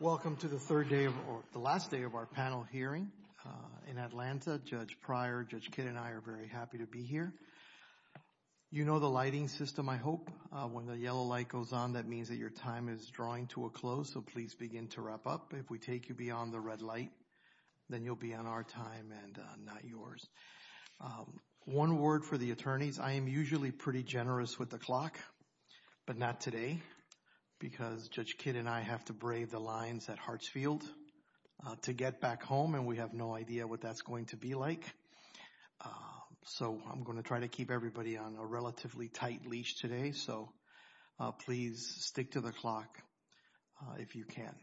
Welcome to the last day of our panel hearing in Atlanta. Judge Prior, Judge Kidd, and I are very happy to be here. You know the lighting system, I hope. When the yellow light goes on, that means that your time is drawing to a close, so please begin to wrap up. If we take you beyond the red light, then you'll be on our time and not yours. One word for the attorneys, I am usually pretty generous with the clock, but not today because Judge Kidd and I have to brave the lines at Hartsfield to get back home, and we have no idea what that's going to be like. So I'm going to try to keep everybody on a relatively tight leash today, so please stick to the clock if you can.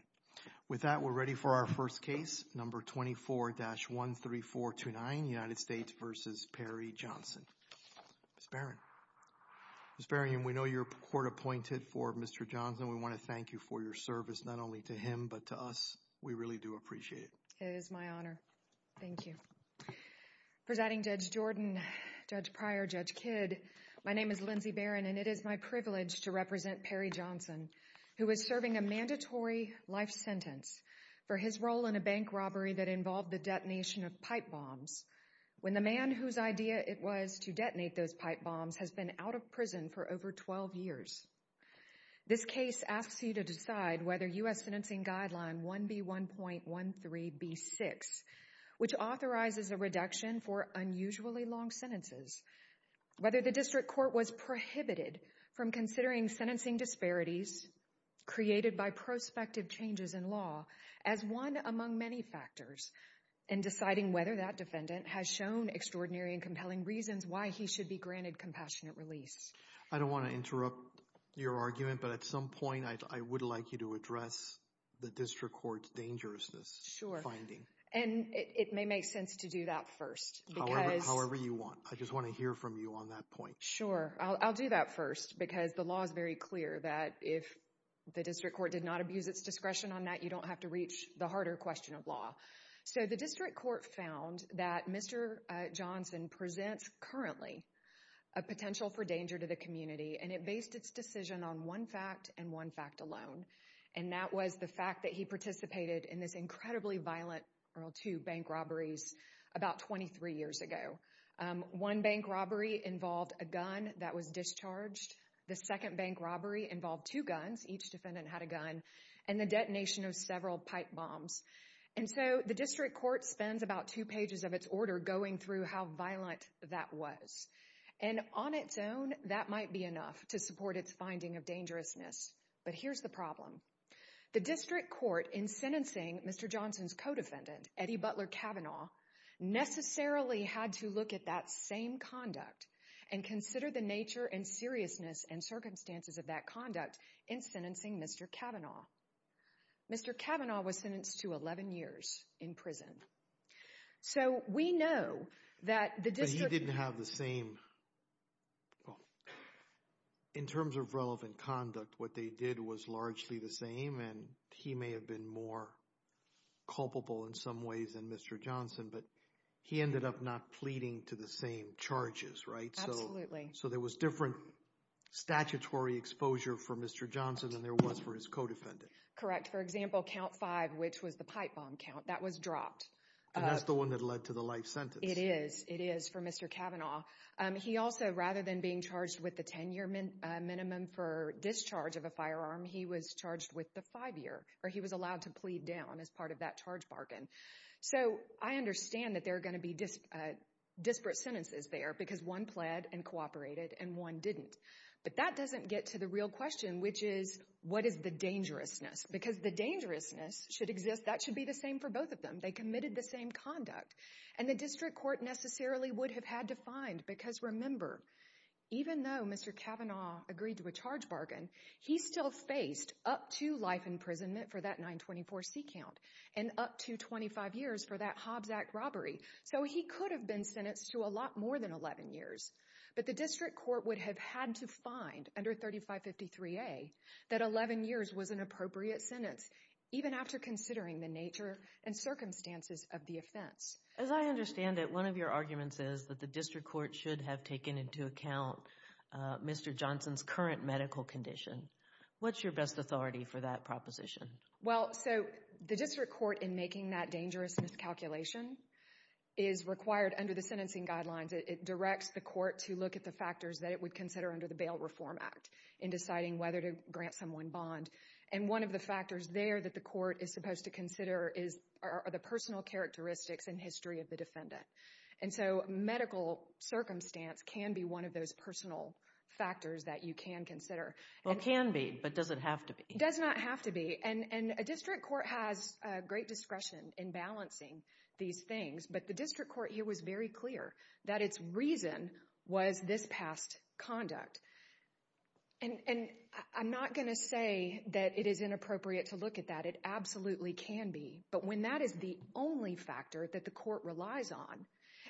With that, we're ready for our first Ms. Barron. Ms. Barron, we know you're court-appointed for Mr. Johnson. We want to thank you for your service, not only to him, but to us. We really do appreciate it. It is my honor. Thank you. Presiding Judge Jordan, Judge Prior, Judge Kidd, my name is Lindsay Barron and it is my privilege to represent Perry Johnson, who is serving a mandatory life sentence for his role in a bank robbery that involved the detonation of pipe bombs. When the man whose idea it was to detonate those pipe bombs has been out of prison for over 12 years. This case asks you to decide whether U.S. Sentencing Guideline 1B1.13B6, which authorizes a reduction for unusually long sentences, whether the district court was prohibited from considering sentencing disparities created by prospective changes in law as one among many factors, and deciding whether that defendant has shown extraordinary and compelling reasons why he should be granted compassionate release. I don't want to interrupt your argument, but at some point I would like you to address the district court's dangerousness finding. And it may make sense to do that first. However you want. I just want to hear from you on that point. Sure. I'll do that first because the law is very clear that if the district court did not abuse its discretion on that, you don't have to reach the harder question of law. So the district court found that Mr. Johnson presents currently a potential for danger to the community and it based its decision on one fact and one fact alone. And that was the fact that he participated in this incredibly violent World War II bank robberies about 23 years ago. One bank robbery involved a gun that was discharged. The second bank robbery involved two guns. Each defendant had a gun and the detonation of several pipe bombs. And so the district court spends about two pages of its order going through how violent that was. And on its own, that might be enough to support its finding of dangerousness. But here's the problem. The district court in sentencing Mr. Johnson's co-defendant, Eddie Butler Cavanaugh, necessarily had to look at that same conduct and consider the nature and seriousness and circumstances of that conduct in sentencing Mr. Cavanaugh. Mr. Cavanaugh was sentenced to 11 years in prison. So we know that the district... But he didn't have the same... In terms of relevant conduct, what they did was largely the same and he may have been more culpable in some ways than Mr. Johnson, but he ended up not pleading to the same charges, right? Absolutely. So there was different statutory exposure for Mr. Johnson than there was for his co-defendant. Correct. For example, count five, which was the pipe bomb count, that was dropped. And that's the one that led to the life sentence. It is. It is for Mr. Cavanaugh. He also, rather than being charged with the 10-year minimum for discharge of a firearm, he was charged with the five-year, or he was allowed to plead down as part of that charge bargain. So I understand that there are going to be disparate sentences there because one pled and cooperated and one didn't. But that doesn't get to the real question, which is, what is the dangerousness? Because the dangerousness should exist... That should be the same for both of them. They committed the same conduct. And the district court necessarily would have had to find, because remember, even though Mr. Cavanaugh agreed to a charge bargain, he still faced up to life imprisonment for that 924C count and up to 25 years for that Hobbs Act robbery. So he could have been sentenced to a lot more than 11 years. But the district court would have had to find, under 3553A, that 11 years was an appropriate sentence, even after considering the nature and circumstances of the offense. As I understand it, one of your arguments is that the district court should have taken into account Mr. Johnson's current medical condition. What's your best authority for that proposition? Well, so the district court, in making that dangerousness calculation, is required under the sentencing guidelines. It directs the court to look at the factors that it would consider under the Bail Reform Act in deciding whether to grant someone bond. And one of the factors there that the court is supposed to consider are the personal characteristics and history of the defendant. And so medical circumstance can be one of those personal factors that you can consider. It can be, but does it have to be? It does not have to be. And a district court has great discretion in balancing these things, but the district court here was very clear that its reason was this past conduct. And I'm not going to say that it is inappropriate to look at that. It absolutely can be. But when that is the only factor that the court relies on,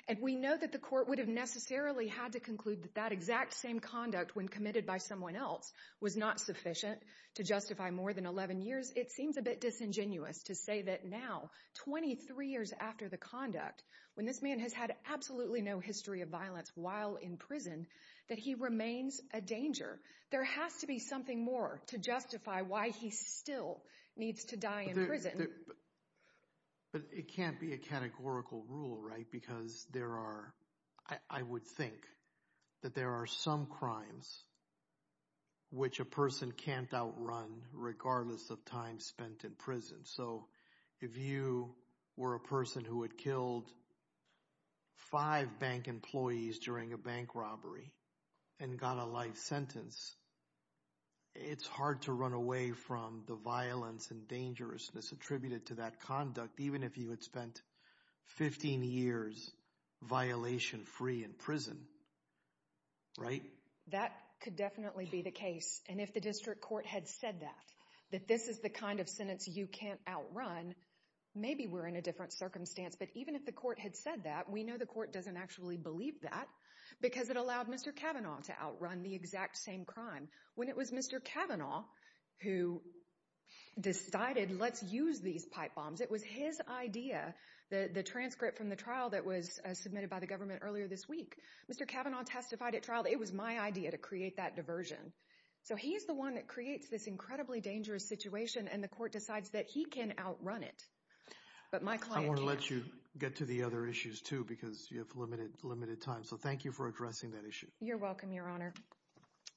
and we know that the court would have necessarily had to conclude that that exact same conduct when committed by someone else was not sufficient to justify more than 11 years, it seems a bit disingenuous to say that now, 23 years after the conduct, when this man has had absolutely no history of violence while in prison, that he remains a danger. There has to be something more to justify why he still needs to die in prison. But it can't be a categorical rule, right? Because there are, I would think that there are some crimes which a person can't outrun regardless of time spent in prison. So if you were a person who had killed five bank employees during a bank robbery and got a life sentence, it's hard to run away from the violence and dangerousness attributed to that conduct, even if you had spent 15 years violation-free in prison, right? That could definitely be the case. And if the district court had said that, that this is the kind of sentence you can't outrun, maybe we're in a different circumstance. But even if the court had said that, we know the court doesn't actually believe that because it allowed Mr. Kavanaugh to outrun the exact same crime. When it was Mr. Kavanaugh who decided let's use these pipe bombs, it was his idea, the transcript from the trial that was submitted by the government earlier this week. Mr. Kavanaugh testified at trial, it was my idea to create that diversion. So he's the one that creates this incredibly dangerous situation and the court decides that he can outrun it. But my client can't. I want to let you get to the other issues too because you have limited time. So thank you for addressing that issue. You're welcome, Your Honor.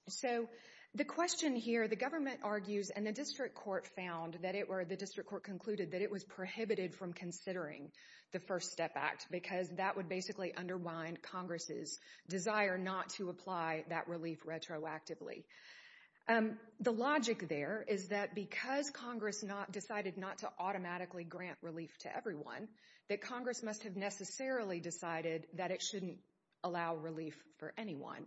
So the question here, the government argues and the district court found that it was prohibited from considering the First Step Act because that would basically underwind Congress's desire not to apply that relief retroactively. The logic there is that because Congress decided not to automatically grant relief to everyone, that Congress must have necessarily decided that it shouldn't allow relief for anyone.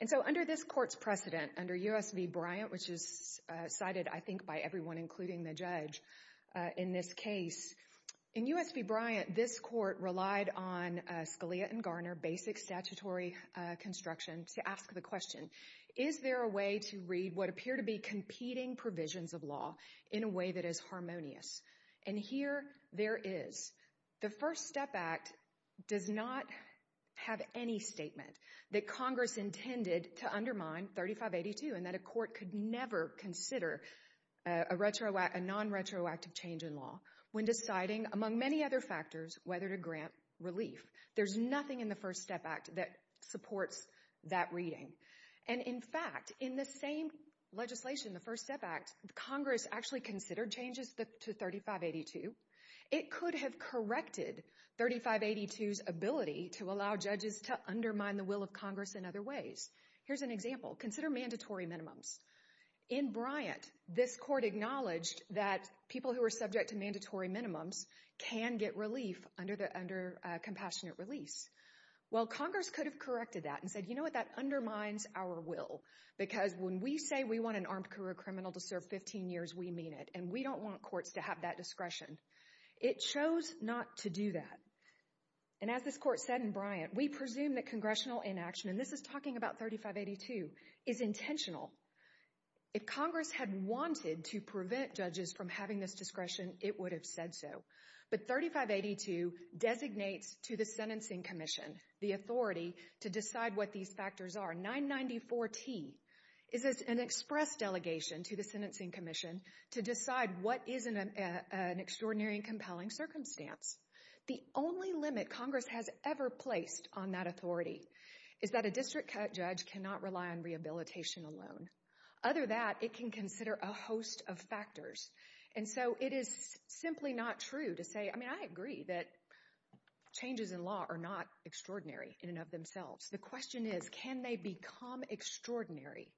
And so under this court's precedent, under U.S. v. Bryant which is cited I think by everyone including the judge in this case, in U.S. v. Bryant this court relied on Scalia and Garner basic statutory construction to ask the question, is there a way to read what appear to be competing provisions of law in a way that is harmonious? And here there is. The First Step Act does not have any statement that Congress intended to undermine 3582 and that a court could never consider a non-retroactive change in law when deciding among many other factors whether to grant relief. There's nothing in the First Step Act that supports that reading. And in fact, in the same legislation, the First Step Act, Congress actually considered changes to 3582. It could have corrected 3582's ability to allow judges to undermine the will of Congress in other ways. Here's an example. Consider mandatory minimums. In Bryant, this court acknowledged that people who were subject to mandatory minimums can get relief under compassionate release. Well, Congress could have corrected that and said, you know what, that undermines our will because when we say we want an armed career criminal to serve 15 years, we mean it. And we don't want courts to have that discretion. It chose not to do that. And as this court said in Bryant, we presume that congressional inaction, and this is talking about 3582, is intentional. If Congress had wanted to prevent judges from having this discretion, it would have said so. But 3582 designates to the Sentencing Commission the authority to decide what these factors are. 994T is an express delegation to the Sentencing Commission to decide what is an extraordinary and compelling circumstance. The only limit Congress has ever placed on that authority is that a district judge cannot rely on rehabilitation alone. Other than that, it can consider a host of factors. And so it is simply not true to say, I mean, I agree that changes in law are not extraordinary in and of themselves. The question is, can they become extraordinary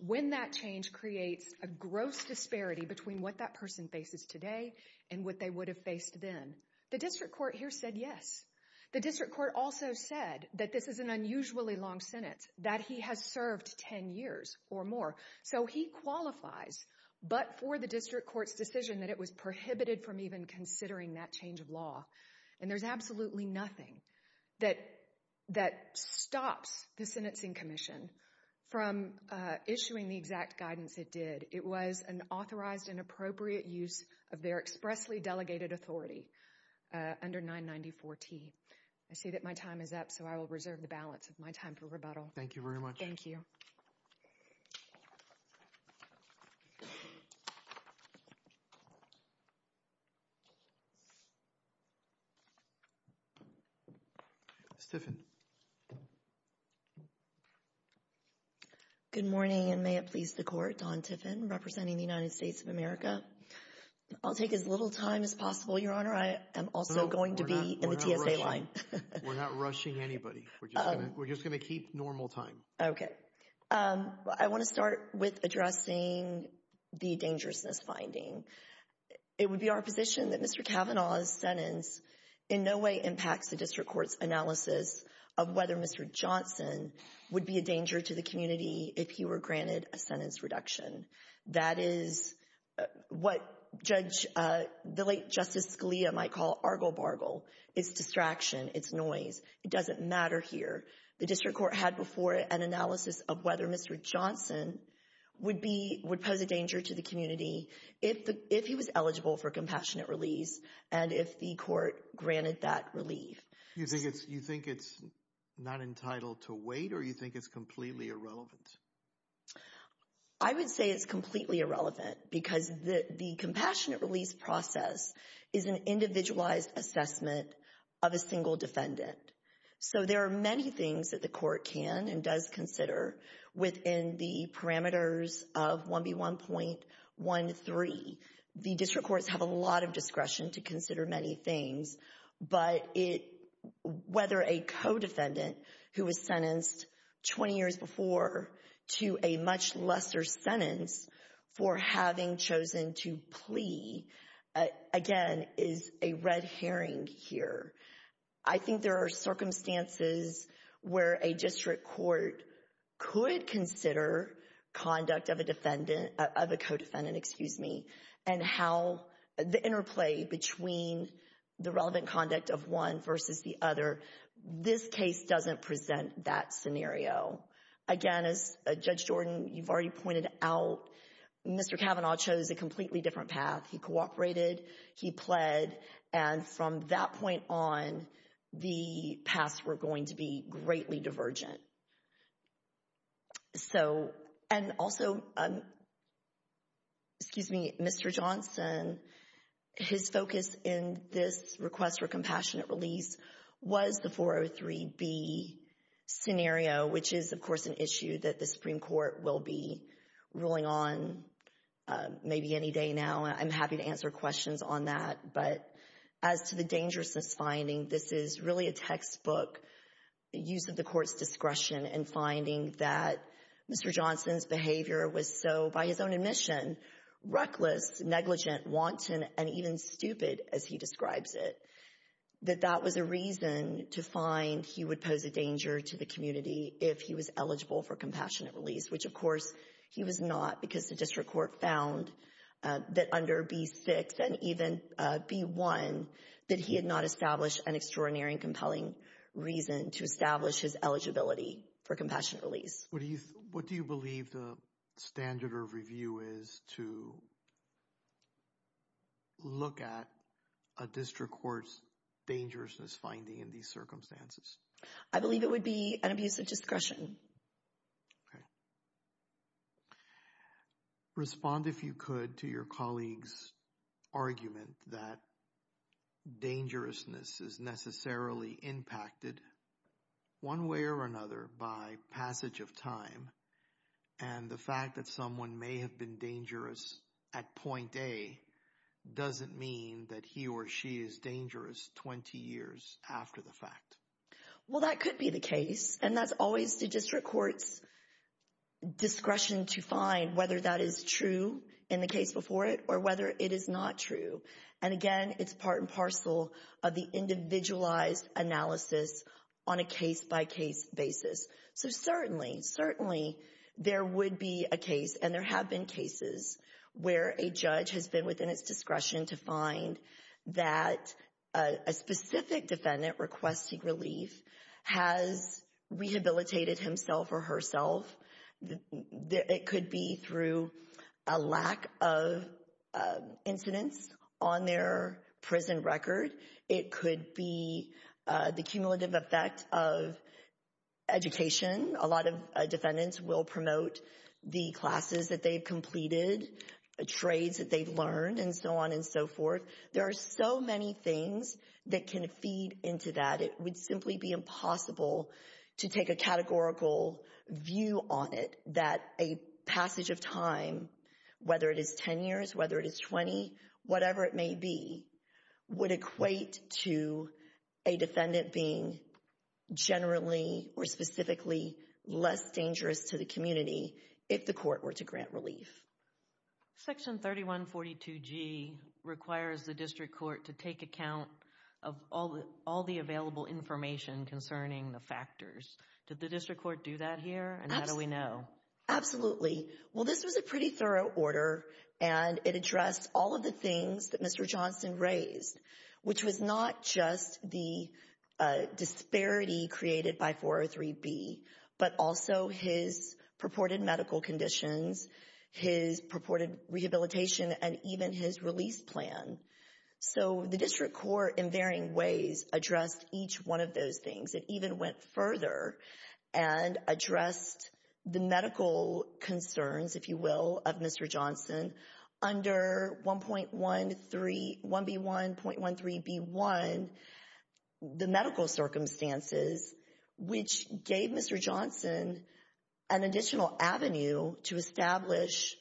when that change creates a gross disparity between what that person faces today and what they would have faced then? The district court here said yes. The district court also said that this is an unusually long sentence, that he has served 10 years or more. So he qualifies, but for the district court's decision that it was prohibited from even considering that change of law. And there's absolutely nothing that stops the Sentencing Commission from issuing the exact guidance it did. It was an authorized and appropriate use of their expressly delegated authority under 994T. I see that my time is up, so I will reserve the balance of my time for rebuttal. Thank you very much. Thank you. Ms. Tiffin. Good morning, and may it please the Court. Dawn Tiffin, representing the United States of America. I'll take as little time as possible, Your Honor. I am also going to be in the TSA line. We're not rushing anybody. We're just going to keep normal time. Okay. I want to start with addressing the dangerousness finding. It would be our position that Mr. Kavanaugh's sentence in no way impacts the district court's analysis of whether Mr. Johnson would be a danger to the community if he were granted a sentence reduction. That is what the late Justice Scalia might call argle-bargle. It's distraction. It's noise. It doesn't matter here. The district court had before it an analysis of whether Mr. Johnson would pose a danger to the community if he was eligible for compassionate release and if the court granted that relief. You think it's not entitled to wait, or you think it's completely irrelevant? I would say it's completely irrelevant because the compassionate release process is an individualized assessment of a single defendant. So there are many things that the court can and does consider within the parameters of 1B1.13. The district courts have a lot of discretion to consider many things, but whether a co-defendant who was sentenced 20 years before to a much lesser sentence for having chosen to plea, again, is a red herring here. I think there are circumstances where a district court could consider conduct of a defendant, of a co-defendant, excuse me, and how the interplay between the relevant conduct of one versus the other, this case doesn't present that scenario. Again, as Judge Jordan, you've already pointed out, Mr. Kavanaugh chose a completely different path. He cooperated. He pled. And from that point on, the paths were going to be greatly divergent. And also, Mr. Johnson, his focus in this request for compassionate release was the 403B scenario, which is, of course, an issue that the Supreme Court will be ruling on maybe any day now. I'm happy to answer questions on that. But as to the dangerousness finding, this is really a textbook use of the court's discretion in finding that Mr. Johnson's behavior was so, by his own admission, reckless, negligent, wanton, and even stupid, as he describes it, that that was a reason to find he would pose a danger to the community if he was eligible for compassionate release, which, of course, he was not because the district court found that under B-6 and even B-1, that he had not established an extraordinary and compelling reason to establish his eligibility for compassionate release. What do you believe the standard of review is to look at a district court's dangerousness finding in these circumstances? I believe it would be an abuse of discretion. Okay. Respond, if you could, to your colleague's argument that dangerousness is necessarily impacted one way or another by passage of time. And the fact that someone may have been dangerous at point A doesn't mean that he or she is dangerous 20 years after the fact. Well, that could be the case. And that's always the district court's discretion to find whether that is true in the case before it or whether it is not true. And again, it's part and parcel of the individualized analysis on a case-by-case basis. So certainly, certainly there would be a case, and there have been cases, where a judge has been within its discretion to find that a specific defendant requesting relief has rehabilitated himself or herself. It could be through a lack of incidents on their prison record. It could be the cumulative effect of education. A lot of defendants will promote the classes that they've completed, trades that they've learned, and so on and so forth. There are so many things that can feed into that. It would simply be impossible to take a categorical view on it that a passage of time, whether it is 10 years, whether it is 20, whatever it may be, would equate to a defendant being generally or specifically less dangerous to the community if the court were to grant relief. Section 3142G requires the district court to take account of all the available information concerning the factors. Did the district court do that here, and how do we know? Absolutely. Well, this was a pretty thorough order, and it addressed all of the things that Mr. Johnson raised, which was not just the disparity created by 403B, but also his purported medical conditions, his purported rehabilitation, and even his release plan. So the district court in varying ways addressed each one of those things. It even went further and addressed the medical concerns, if you will, of Mr. Johnson under 1B1.13B1, the medical circumstances, which gave Mr. Johnson an additional avenue to establish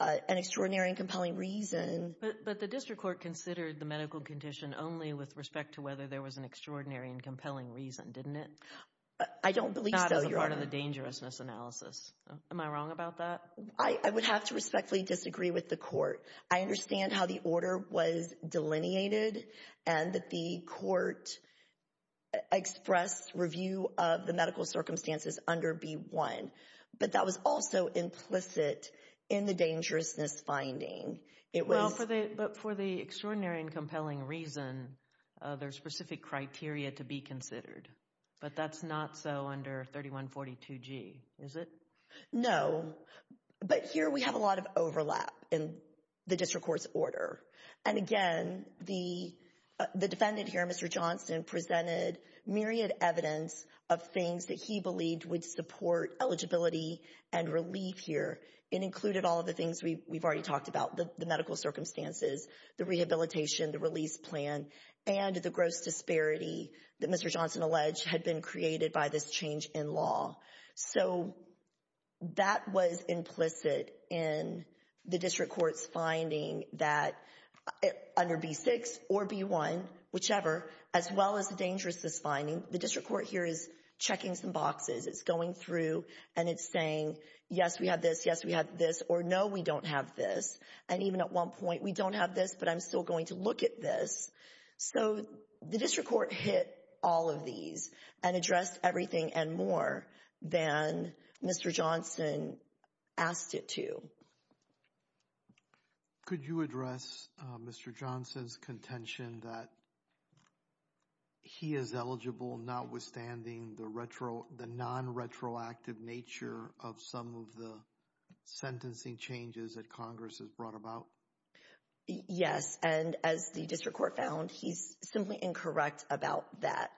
an extraordinary and compelling reason. But the district court considered the medical condition only with respect to whether there was an extraordinary and compelling reason, didn't it? I don't believe so. Not as a part of the dangerousness analysis. Am I wrong about that? I would have to respectfully disagree with the court. I understand how the order was delineated and that the court expressed review of the medical circumstances under B1, but that was also implicit in the dangerousness finding. Well, but for the extraordinary and compelling reason, there's specific criteria to be considered, but that's not so under 3142G, is it? No, but here we have a lot of overlap in the district court's order. And again, the defendant here, Mr. Johnson, presented myriad evidence of things that he believed would support eligibility and relief here. It included all of the things we've already talked about, the medical circumstances, the rehabilitation, the release plan, and the gross disparity that Mr. Johnson alleged had been created by this change in law. So that was implicit in the district court's finding that under B6 or B1, whichever, as well as the dangerousness finding, the district court here is checking some boxes. It's going through and it's saying, yes, we have this, yes, we have this, or no, we don't have this. And even at one point, we don't have this, but I'm still going to look at this. So the district court hit all of these and addressed everything and more than Mr. Johnson asked it to. Could you address Mr. Johnson's contention that he is eligible, notwithstanding the non-retroactive nature of some of the sentencing changes that Congress has brought about? Yes, and as the district court found, he's simply incorrect about that.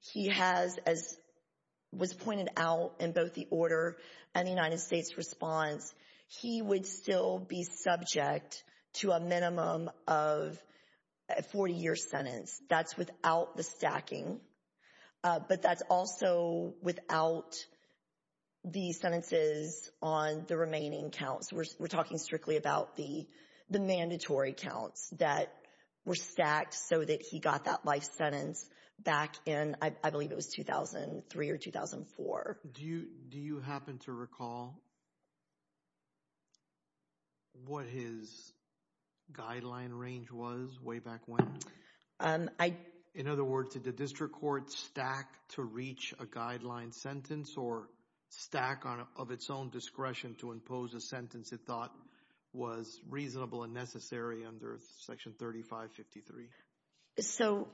He has, as was pointed out in both the order and the United That's without the stacking, but that's also without the sentences on the remaining counts. We're talking strictly about the mandatory counts that were stacked so that he got that life sentence back in, I believe it was 2003 or 2004. Do you happen to recall what his guideline range was way back when? In other words, did the district court stack to reach a guideline sentence or stack of its own discretion to impose a sentence it thought was reasonable and necessary under Section 3553? So,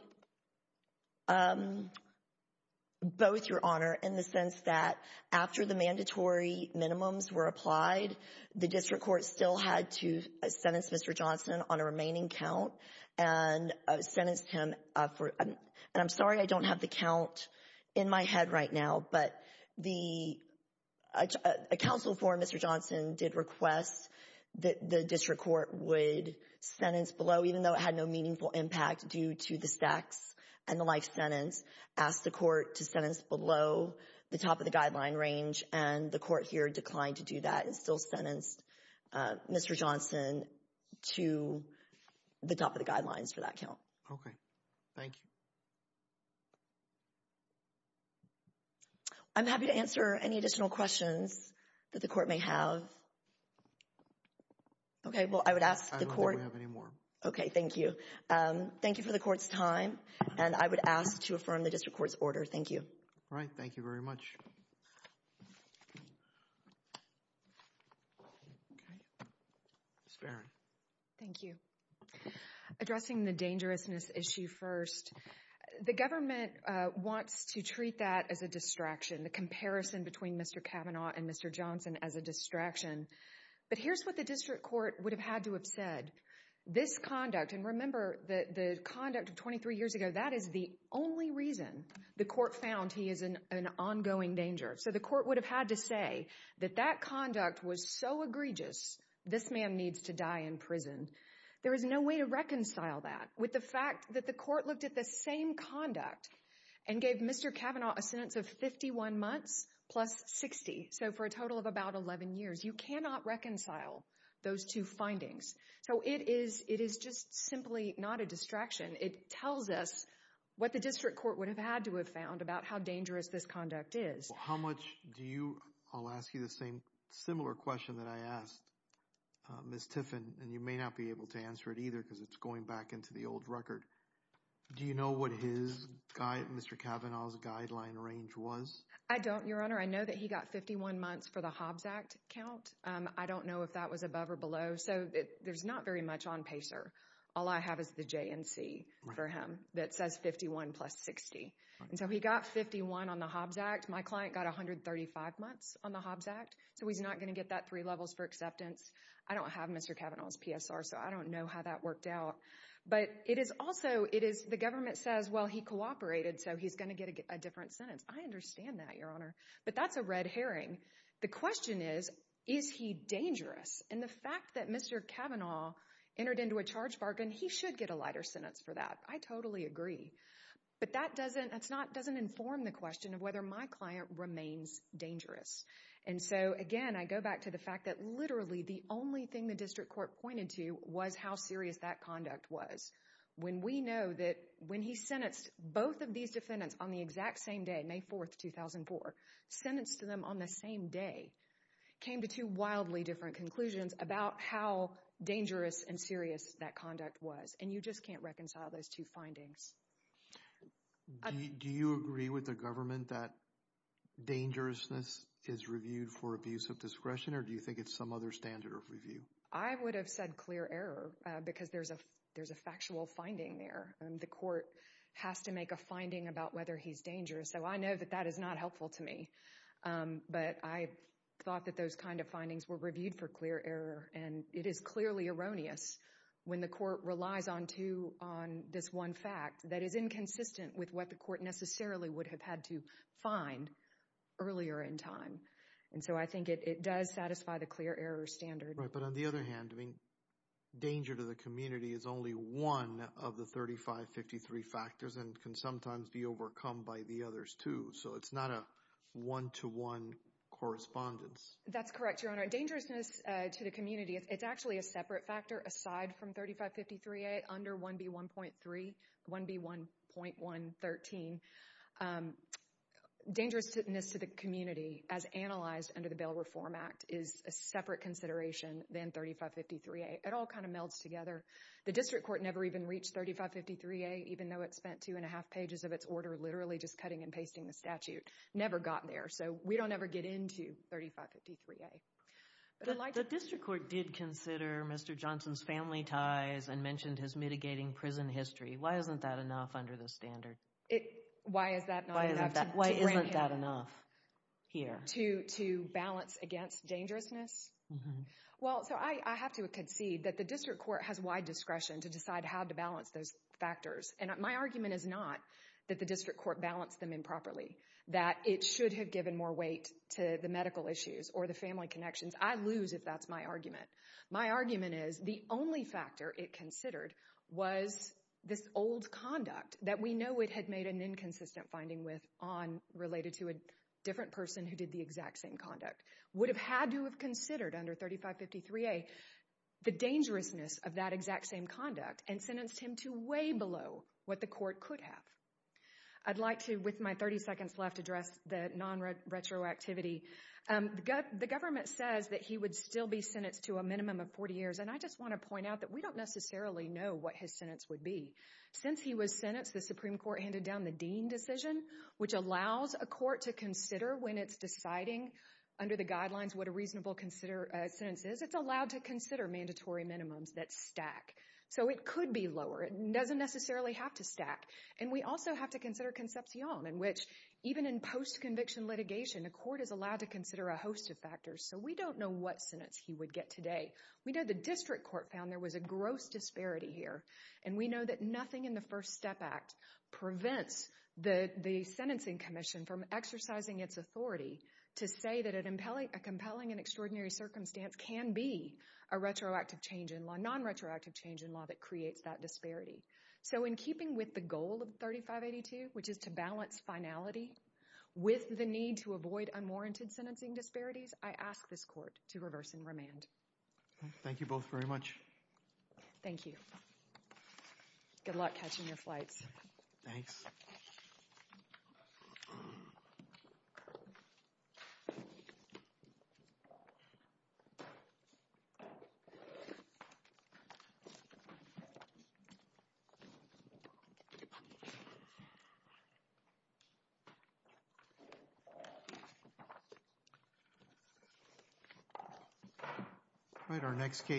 both, Your Honor, in the sense that after the mandatory minimums were applied, the district court still had to sentence Mr. Johnson on a remaining count and sentenced him for, and I'm sorry I don't have the count in my head right now, but a counsel for Mr. Johnson did request that the district court would sentence below, even though it had no meaningful impact due to the stacks and the life sentence, ask the court to sentence below the top of the guideline range and the court here declined to do that and still sentenced Mr. Johnson to the top of the guidelines for that count. Okay, thank you. I'm happy to answer any additional questions that the court may have. Okay, well, I would ask the court. I don't think we have any more. Okay, thank you. Thank you for the court's time, and I would ask to affirm the district court's order. Thank you. All right, thank you very much. Thank you. Addressing the dangerousness issue first, the government wants to treat that as a distraction, the comparison between Mr. Kavanaugh and Mr. Johnson as a distraction, but here's what the district court would have had to have said. This conduct, and remember the conduct of 23 years ago, that is the only reason the court found he is in an ongoing danger, so the court would have had to say that that conduct was so egregious this man needs to die in prison. There is no way to reconcile that with the fact that the court looked at the same conduct and gave Mr. Kavanaugh a sentence of 51 months plus 60, so for a total of about 11 years. You cannot reconcile those two findings, so it is just simply not a distraction. It tells us what the district court would have had to have found about how dangerous this conduct is. How much do you, I'll ask you the same similar question that I asked Ms. Tiffin, and you may not be able to answer it either because it's going back into the old record. Do you know what his, Mr. Kavanaugh's guideline range was? I don't, Your Honor. I know that he got 51 months for the Hobbs Act count. I don't know if that was above or below, so there's not very much on PACER. All I have is the JNC for him that says 51 plus 60, and so he got 51 on the Hobbs Act. My client got 135 months on the Hobbs Act, so he's not going to get that three levels for acceptance. I don't have Mr. Kavanaugh's PSR, so I don't know how that worked out, but it is also, it is, the government says, well, he cooperated, so he's going to get a different sentence. I understand that, Your Honor, but that's a red herring. The question is, is he dangerous? And the fact that Mr. Kavanaugh entered into a charge bargain, he should get a lighter sentence for that. I totally agree, but that doesn't, that's not, doesn't inform the question of whether my client remains dangerous, and so again, I go back to the fact that literally the only thing the district court pointed to was how serious that conduct was. When we know that when he sentenced both of these defendants on the exact same day, May 4, 2004, sentenced them on the same day, came to two wildly different conclusions about how dangerous and serious that conduct was, and you just can't reconcile those two findings. Do you agree with the government that dangerousness is reviewed for abuse of discretion, or do you think it's some other standard of review? I would have said clear error because there's a, there's a factual finding there, and the court has to make a finding about whether he's dangerous, so I know that that is not helpful to me, but I thought that those kind of findings were reviewed for clear error, and it is clearly erroneous when the court relies on two, on this one fact that is inconsistent with what the court necessarily would have had to find earlier in time, and so I think it does satisfy the clear error standard. Right, but on the other hand, I mean, danger to the community is only one of the 3553 factors and can sometimes be overcome by the others, too, so it's not a one-to-one correspondence. That's correct, Your Honor. Dangerousness to the community, it's actually a separate factor aside from 3553a under 1B1.3, 1B1.113. Dangerousness to the community, as analyzed under the Bail Reform Act, is a separate consideration than 3553a. It all kind of melds together. The district court never even reached 3553a, even though it spent two and a half pages of its order literally just cutting and pasting the statute. Never got there, so we don't ever get into 3553a. The district court did consider Mr. Johnson's family ties and mentioned his mitigating prison history. Why isn't that enough under the standard? Why is that not enough? Why isn't that enough here? To balance against dangerousness? Well, so I have to concede that the district court has wide discretion to decide how to balance those factors, and my argument is not that the district court balanced them improperly, that it should have given more weight to the medical issues or the family connections. I lose if that's my argument. My argument is the only factor it considered was this old conduct that we know it had made an inconsistent finding with on related to a different person who did the exact same conduct. Would have had to have considered under 3553a the dangerousness of that exact same conduct and sentenced him to way below what the court could have. I'd like to, with my 30 seconds left, address the non-retroactivity. The government says that he would still be sentenced to a minimum of 40 years, and I just want to point out that we don't necessarily know what his sentence would be. Since he was sentenced, the Supreme Court handed down the Dean decision, which allows a court to consider when it's deciding under the guidelines what a reasonable sentence is. It's allowed to consider mandatory minimums that stack, so it could be lower. It doesn't necessarily have to stack, and we also have to consider concepcion, in which even in post-conviction litigation, a court is allowed to consider a host of factors, so we don't know what sentence he would get today. We know the district court found there was a gross disparity here, and we know that nothing in the First Step Act prevents the the sentencing commission from exercising its authority to say that a compelling and extraordinary circumstance can be a retroactive change in law, that creates that disparity. So in keeping with the goal of 3582, which is to balance finality with the need to avoid unwarranted sentencing disparities, I ask this court to reverse and remand. Thank you both very much. Thank you. Good luck catching your flights. Thanks. All right, our next case.